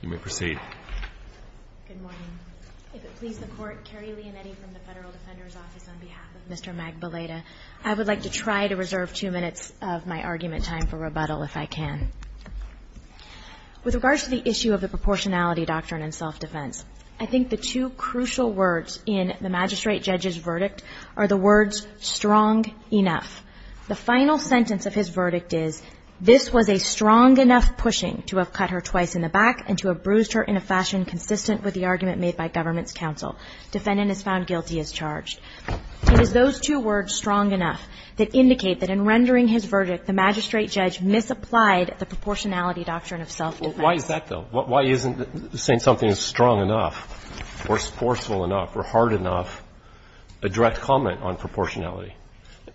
I would like to try to reserve two minutes of my argument time for rebuttal if I can. With regards to the issue of the proportionality doctrine in self-defense, I think the two crucial words in the magistrate judge's verdict are the words strong enough that indicate that in rendering his verdict, the magistrate judge misapplied the proportionality doctrine of self-defense. Why is that, though? Why isn't saying something is strong enough or forceful enough or hard enough a direct comment on proportionality?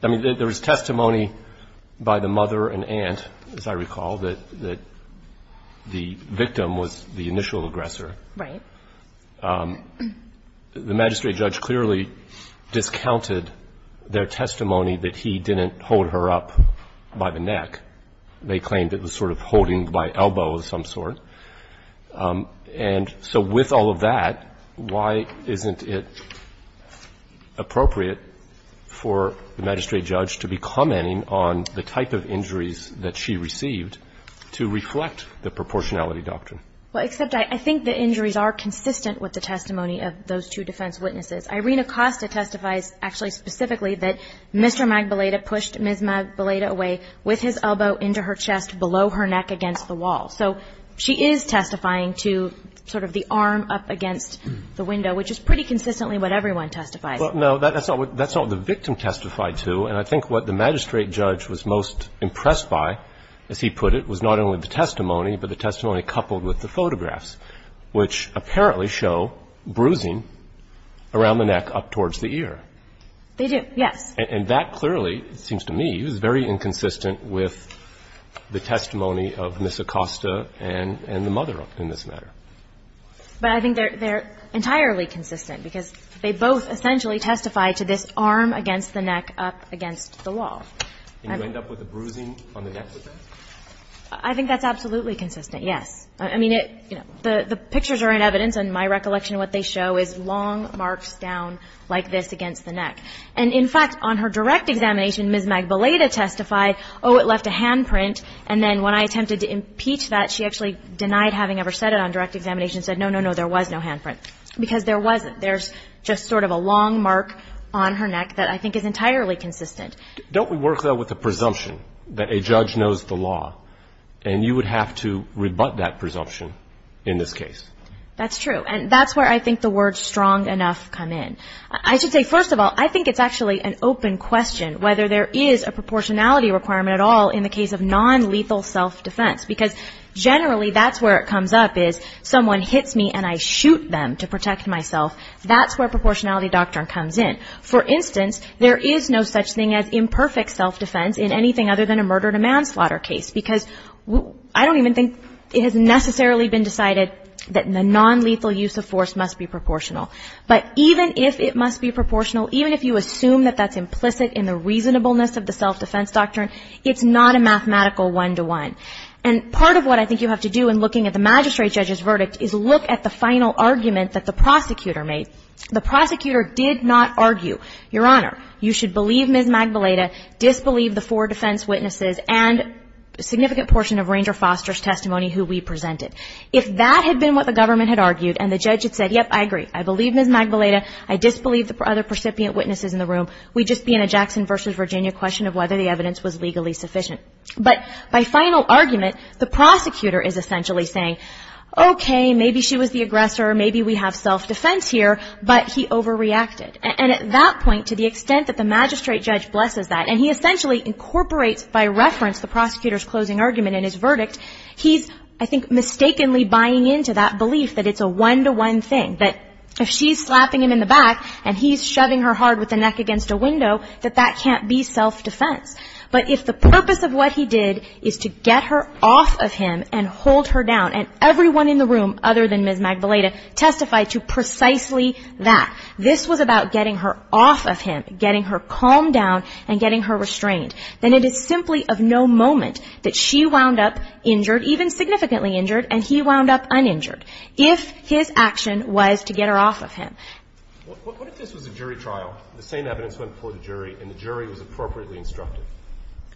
I mean, there was testimony by the mother and aunt, as I recall, that the victim was the initial aggressor. Right. The magistrate judge clearly discounted their testimony that he didn't hold her up by the neck. They claimed it was sort of holding by elbow of some sort. And so with all of that, why isn't it appropriate for the magistrate judge to be commenting on the type of injuries that she received to reflect the proportionality doctrine? Well, except I think the injuries are consistent with the testimony of those two defense witnesses. Irina Costa testifies actually specifically that Mr. Magbaleta pushed Ms. Magbaleta away with his elbow into her chest below her neck against the wall. So she is testifying to sort of the arm up against the window, which is pretty consistently what everyone testifies. Well, no, that's not what the victim testified to. And I think what the magistrate judge was most impressed by, as he put it, was not only the testimony, but the testimony coupled with the photographs, which apparently show bruising around the neck up towards the ear. They do, yes. And that clearly, it seems to me, is very inconsistent with the testimony of Ms. Costa and the mother in this matter. But I think they're entirely consistent, because they both essentially testify to this arm against the neck up against the wall. And you end up with the bruising on the neck with it? I think that's absolutely consistent, yes. I mean, it, you know, the pictures are in evidence. And my recollection of what they show is long marks down like this against the neck. And, in fact, on her direct examination, Ms. Magballeda testified, oh, it left a handprint. And then when I attempted to impeach that, she actually denied having ever said it on direct examination, said, no, no, no, there was no handprint, because there was. There's just sort of a long mark on her neck that I think is entirely consistent. Don't we work, though, with the presumption that a judge knows the law, and you would have to rebut that presumption in this case? That's true. And that's where I think the words strong enough come in. I should say, first of all, I think it's actually an open question whether there is a proportionality requirement at all in the case of nonlethal self-defense, because generally that's where it comes up is someone hits me and I shoot them to protect myself. That's where proportionality doctrine comes in. For instance, there is no such thing as imperfect self-defense in anything other than a murder to manslaughter case, because I don't even think it has necessarily been decided that the nonlethal use of force must be proportional. But even if it must be proportional, even if you assume that that's implicit in the reasonableness of the self-defense doctrine, it's not a mathematical one-to-one. And part of what I think you have to do in looking at the magistrate judge's verdict is look at the final argument that the prosecutor made. The prosecutor did not argue, Your Honor, you should believe Ms. Magdalena, disbelieve the four defense witnesses and a significant portion of Ranger Foster's testimony who we presented. If that had been what the government had argued and the judge had said, yep, I agree, I believe Ms. Magdalena, I disbelieve the other recipient witnesses in the room, we'd just be in a Jackson v. Virginia question of whether the evidence was legally sufficient. But by final argument, the prosecutor is essentially saying, okay, maybe she was the aggressor, maybe we have self-defense here, but he overreacted. And at that point, to the extent that the magistrate judge blesses that, and he essentially incorporates by reference the prosecutor's closing argument in his verdict, he's, I think, mistakenly buying into that belief that it's a one-to-one thing, that if she's slapping him in the back and he's shoving her hard with the neck against a window, that that can't be self-defense. But if the purpose of what he did is to get her off of him and hold her down, and everyone in the room other than Ms. Magdalena testified to precisely that, this was about getting her off of him, getting her calmed down, and getting her restrained. Then it is simply of no moment that she wound up injured, even significantly injured, and he wound up uninjured, if his action was to get her off of him. What if this was a jury trial, the same evidence went before the jury, and the jury was appropriately instructed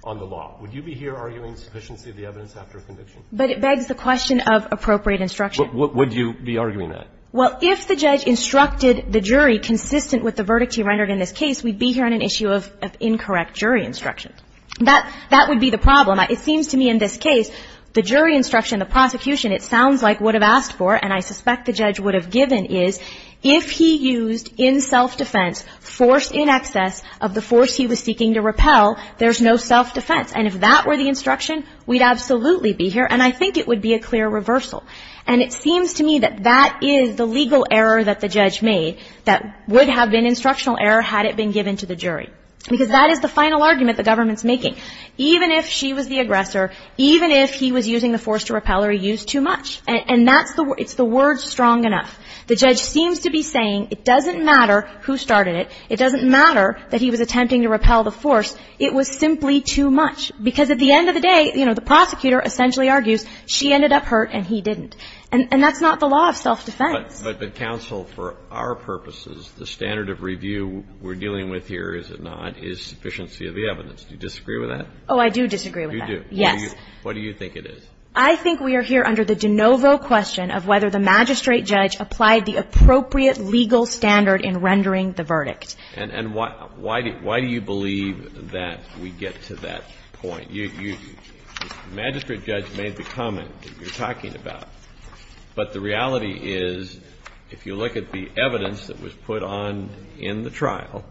on the law? Would you be here arguing sufficiency of the evidence after a conviction? But it begs the question of appropriate instruction. Would you be arguing that? Well, if the judge instructed the jury consistent with the verdict he rendered in this case, we'd be hearing an issue of incorrect jury instruction. That would be the problem. It seems to me in this case, the jury instruction, the prosecution, it sounds like would have asked for, and I suspect the judge would have given, is if he used in self-defense force in excess of the force he was seeking to repel, there's no self-defense. And if that were the instruction, we'd absolutely be here. And I think it would be a clear reversal. And it seems to me that that is the legal error that the judge made, that would have been instructional error had it been given to the jury, because that is the final argument the government's making. Even if she was the aggressor, even if he was using the force to repel her, he used too much. And that's the word. It's the word strong enough. The judge seems to be saying it doesn't matter who started it. It doesn't matter that he was attempting to repel the force. It was simply too much. Because at the end of the day, you know, the prosecutor essentially argues she ended up hurt and he didn't. And that's not the law of self-defense. But counsel, for our purposes, the standard of review we're dealing with here, is it not, is sufficiency of the evidence. Do you disagree with that? Oh, I do disagree with that. You do? Yes. What do you think it is? I think we are here under the de novo question of whether the magistrate judge applied the appropriate legal standard in rendering the verdict. And why do you believe that we get to that point? The magistrate judge made the comment that you're talking about. But the reality is, if you look at the evidence that was put on in the trial,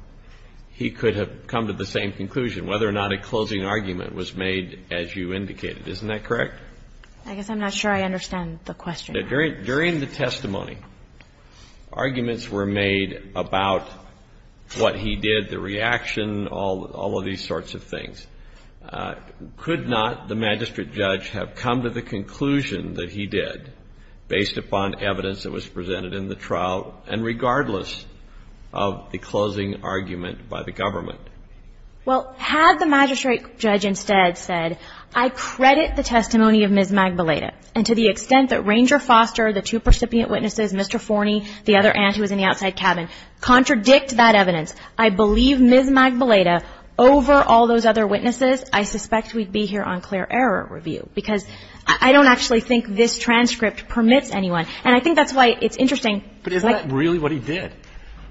he could have come to the same conclusion, whether or not a closing argument was made as you indicated. Isn't that correct? I guess I'm not sure I understand the question. During the testimony, arguments were made about what he did, the reaction, all of these sorts of things. Could not the magistrate judge have come to the conclusion that he did, based upon evidence that was presented in the trial, and regardless of the closing argument by the government? Well, had the magistrate judge instead said, I credit the testimony of Ms. Magballeda, and to the extent that Ranger Foster, the two percipient witnesses, Mr. Forney, the other aunt who was in the outside cabin, contradict that evidence, I believe Ms. Magballeda, over all those other witnesses, I suspect we'd be here on clear error review. Because I don't actually think this transcript permits anyone. And I think that's why it's interesting. But isn't that really what he did?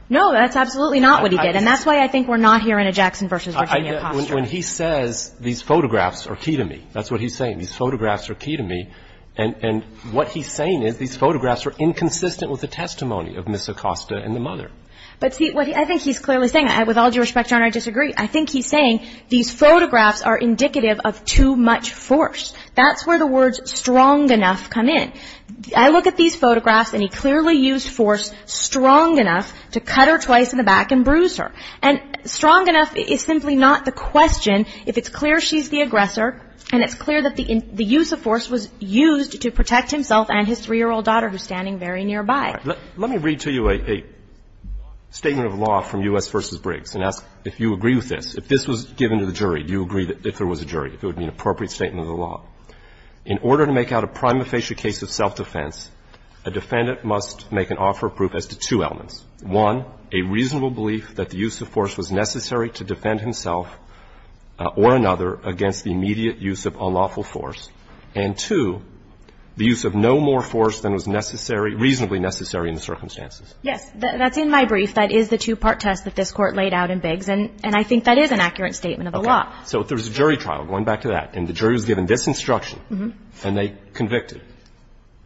No, that's absolutely not what he did. And that's why I think we're not here in a Jackson v. Virginia posture. When he says these photographs are key to me, that's what he's saying. These photographs are key to me. And what he's saying is these photographs are inconsistent with the testimony of Ms. Acosta and the mother. But see, I think he's clearly saying, with all due respect, Your Honor, I disagree. I think he's saying these photographs are indicative of too much force. That's where the words strong enough come in. I look at these photographs, and he clearly used force strong enough to cut her twice in the back and bruise her. And strong enough is simply not the question if it's clear she's the aggressor and it's clear that the use of force was used to protect himself and his 3-year-old daughter who's standing very nearby. Let me read to you a statement of law from U.S. v. Briggs and ask if you agree with this. If this was given to the jury, do you agree that if it was a jury, it would be an appropriate statement of the law? In order to make out a prima facie case of self-defense, a defendant must make an offer of proof as to two elements. One, a reasonable belief that the use of force was necessary to defend himself or another against the immediate use of unlawful force. And two, the use of no more force than was necessary, reasonably necessary in the circumstances. Yes. That's in my brief. That is the two-part test that this Court laid out in Briggs, and I think that is an accurate statement of the law. Okay. So if there was a jury trial, going back to that, and the jury was given this instruction and they convicted,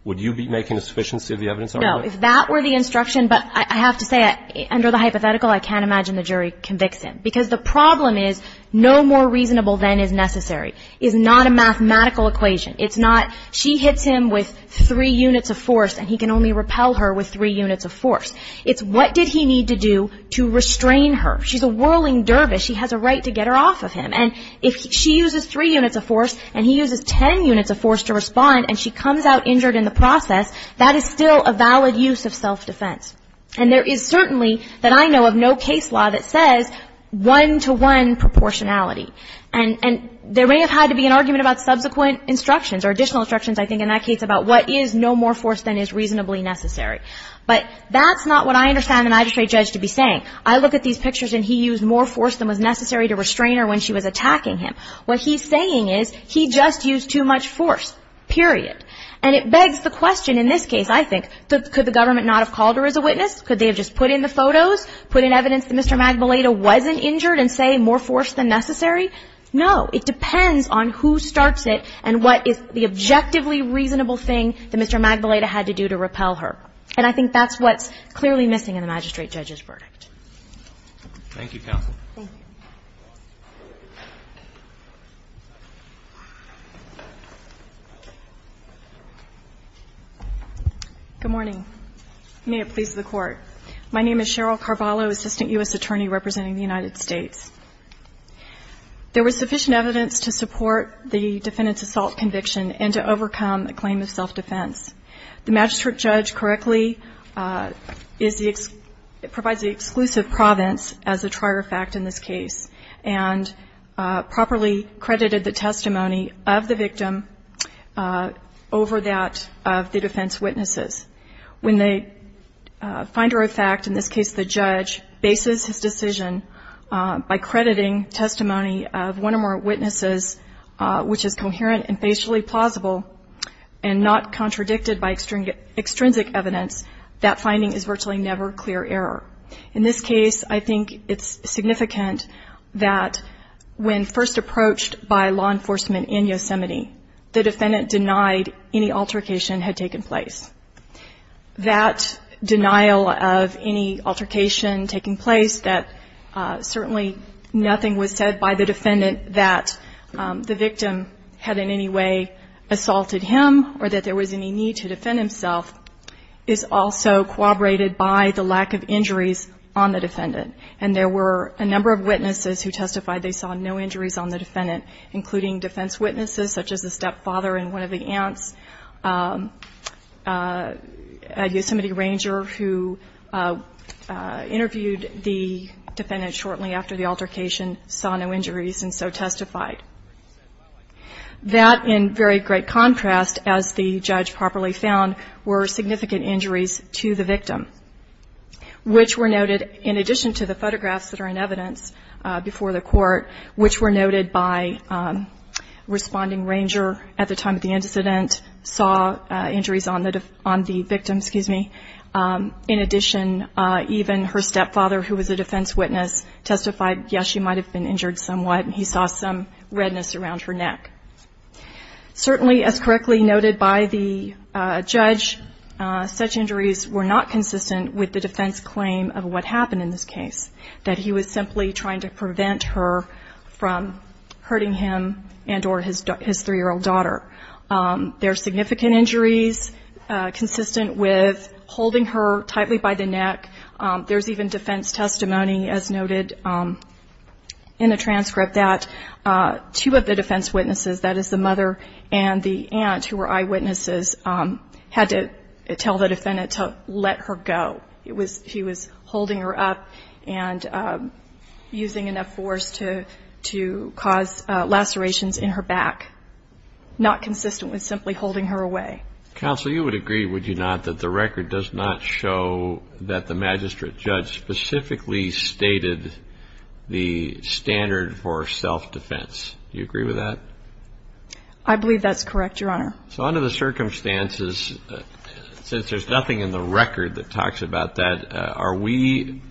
would you be making a sufficiency of the evidence argument? No. If that were the instruction, but I have to say, under the hypothetical, I can't imagine the jury convicts him, because the problem is no more reasonable than is necessary. It's not a mathematical equation. It's not she hits him with three units of force and he can only repel her with three units of force. It's what did he need to do to restrain her. She's a whirling dervish. She has a right to get her off of him. And if she uses three units of force and he uses ten units of force to respond and she comes out injured in the process, that is still a valid use of self-defense. And there is certainly, that I know of, no case law that says one-to-one proportionality. And there may have had to be an argument about subsequent instructions or additional instructions, I think, in that case about what is no more force than is reasonably necessary. But that's not what I understand the magistrate judge to be saying. I look at these pictures and he used more force than was necessary to restrain her when she was attacking him. What he's saying is he just used too much force, period. And it begs the question in this case, I think, could the government not have called her as a witness? Could they have just put in the photos, put in evidence that Mr. Magdalena wasn't injured and say more force than necessary? No. It depends on who starts it and what is the objectively reasonable thing that Mr. Magdalena had to do to repel her. And I think that's what's clearly missing in the magistrate judge's verdict. Thank you, counsel. Thank you. Good morning. May it please the Court. My name is Cheryl Carvalho, assistant U.S. attorney representing the United States. There was sufficient evidence to support the defendant's assault conviction and to overcome a claim of self-defense. The magistrate judge correctly is the ex ‑‑ provides the exclusive province as a trier fact in this case and properly credited the testimony of the victim over that of the defense witnesses. When the finder of fact, in this case the judge, bases his decision by crediting testimony of one or more witnesses, which is coherent and basically plausible and not contradicted by extrinsic evidence, that finding is virtually never clear error. In this case, I think it's significant that when first approached by law enforcement in Yosemite, the defendant denied any altercation had taken place. That denial of any altercation taking place, that certainly nothing was said by the defendant that the victim had in any way assaulted him or that there was any need to defend himself, is also corroborated by the lack of injuries on the defendant. And there were a number of witnesses who testified they saw no injuries on the stepfather and one of the aunts, a Yosemite ranger who interviewed the defendant shortly after the altercation saw no injuries and so testified. That, in very great contrast, as the judge properly found, were significant injuries to the victim, which were noted in addition to the photographs that are in evidence before the court, which were noted by responding ranger at the time of the incident saw injuries on the victim, excuse me. In addition, even her stepfather, who was a defense witness, testified, yes, she might have been injured somewhat and he saw some redness around her neck. Certainly, as correctly noted by the judge, such injuries were not consistent with the defense claim of what happened in this case, that he was simply trying to prevent her from hurting him and or his three-year-old daughter. There are significant injuries consistent with holding her tightly by the neck. There's even defense testimony, as noted in the transcript, that two of the defense witnesses, that is the mother and the aunt who were eyewitnesses, had to tell the judge that he was holding her up and using enough force to cause lacerations in her back, not consistent with simply holding her away. Counsel, you would agree, would you not, that the record does not show that the magistrate judge specifically stated the standard for self-defense. Do you agree with that? I believe that's correct, Your Honor. So under the circumstances, since there's nothing in the record that talks about that, are we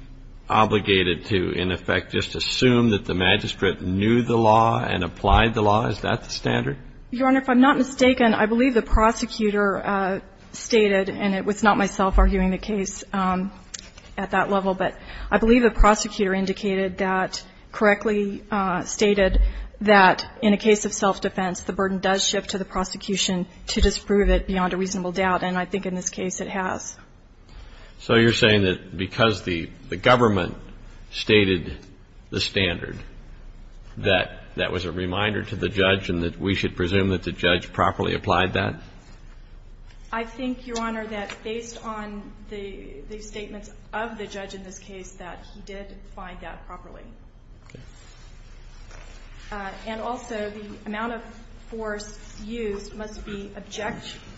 obligated to, in effect, just assume that the magistrate knew the law and applied the law? Is that the standard? Your Honor, if I'm not mistaken, I believe the prosecutor stated, and it was not myself arguing the case at that level, but I believe the prosecutor indicated that, correctly stated, that in a case of self-defense, the burden does shift to the prosecution to disprove it beyond a reasonable doubt, and I think in this case it has. So you're saying that because the government stated the standard, that that was a reminder to the judge and that we should presume that the judge properly applied that? I think, Your Honor, that based on the statements of the judge in this case, that he did find that properly. And also, the amount of force used must be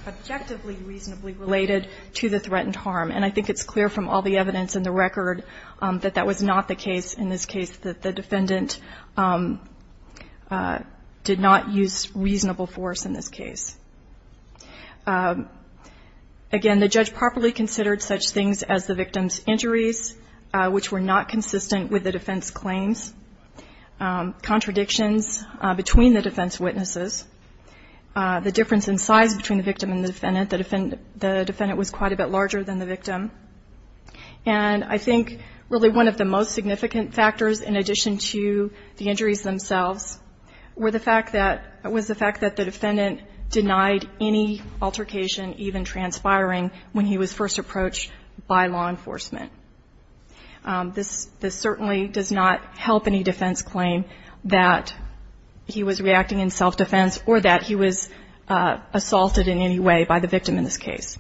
objectively reasonably related to the threatened harm, and I think it's clear from all the evidence in the record that that was not the case in this case, that the defendant did not use reasonable force in this case. Again, the judge properly considered such things as the victim's injuries, which were not consistent with the defense claims, contradictions between the defense witnesses, the difference in size between the victim and the defendant. The defendant was quite a bit larger than the victim. And I think really one of the most significant factors, in addition to the injuries themselves, were the fact that the defendant denied any altercation, even transpiring, when he was first approached by law enforcement. This certainly does not help any defense claim that he was reacting in self-defense or that he was assaulted in any way by the victim in this case.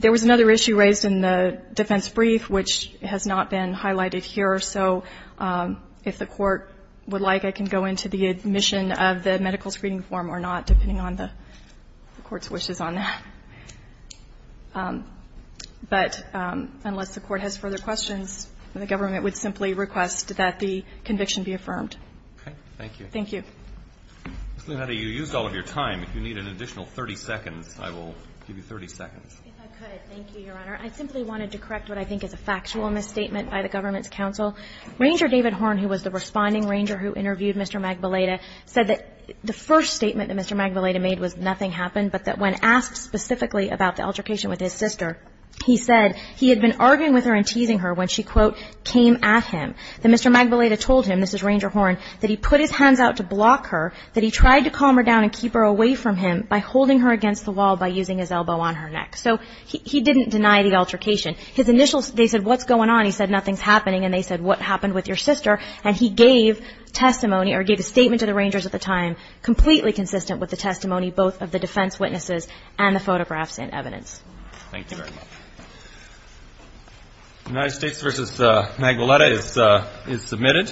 There was another issue raised in the defense brief, which has not been highlighted here. So if the Court would like, I can go into the admission of the medical screening form or not, depending on the Court's wishes on that. But unless the Court has further questions, the government would simply request that the conviction be affirmed. Roberts. Thank you. Thank you. Ms. Luneta, you used all of your time. If you need an additional 30 seconds, I will give you 30 seconds. If I could, thank you, Your Honor. I simply wanted to correct what I think is a factual misstatement by the government's counsel. Ranger David Horne, who was the Responding Ranger who interviewed Mr. Magbeleda, said that the first statement that Mr. Magbeleda made was nothing happened, but that when asked specifically about the altercation with his sister, he said he had been arguing with her and teasing her when she, quote, came at him, that Mr. Magbeleda told him, this is Ranger Horne, that he put his hands out to block her, that he tried to calm her down and keep her away from him by holding her against the wall by using his elbow on her neck. So he didn't deny the altercation. His initials, they said, what's going on? He said, nothing's happening. And they said, what happened with your sister? And he gave testimony, or gave a statement to the Rangers at the time, completely consistent with the testimony both of the defense witnesses and the photographs and evidence. Thank you very much. United States v. Magbeleda is submitted.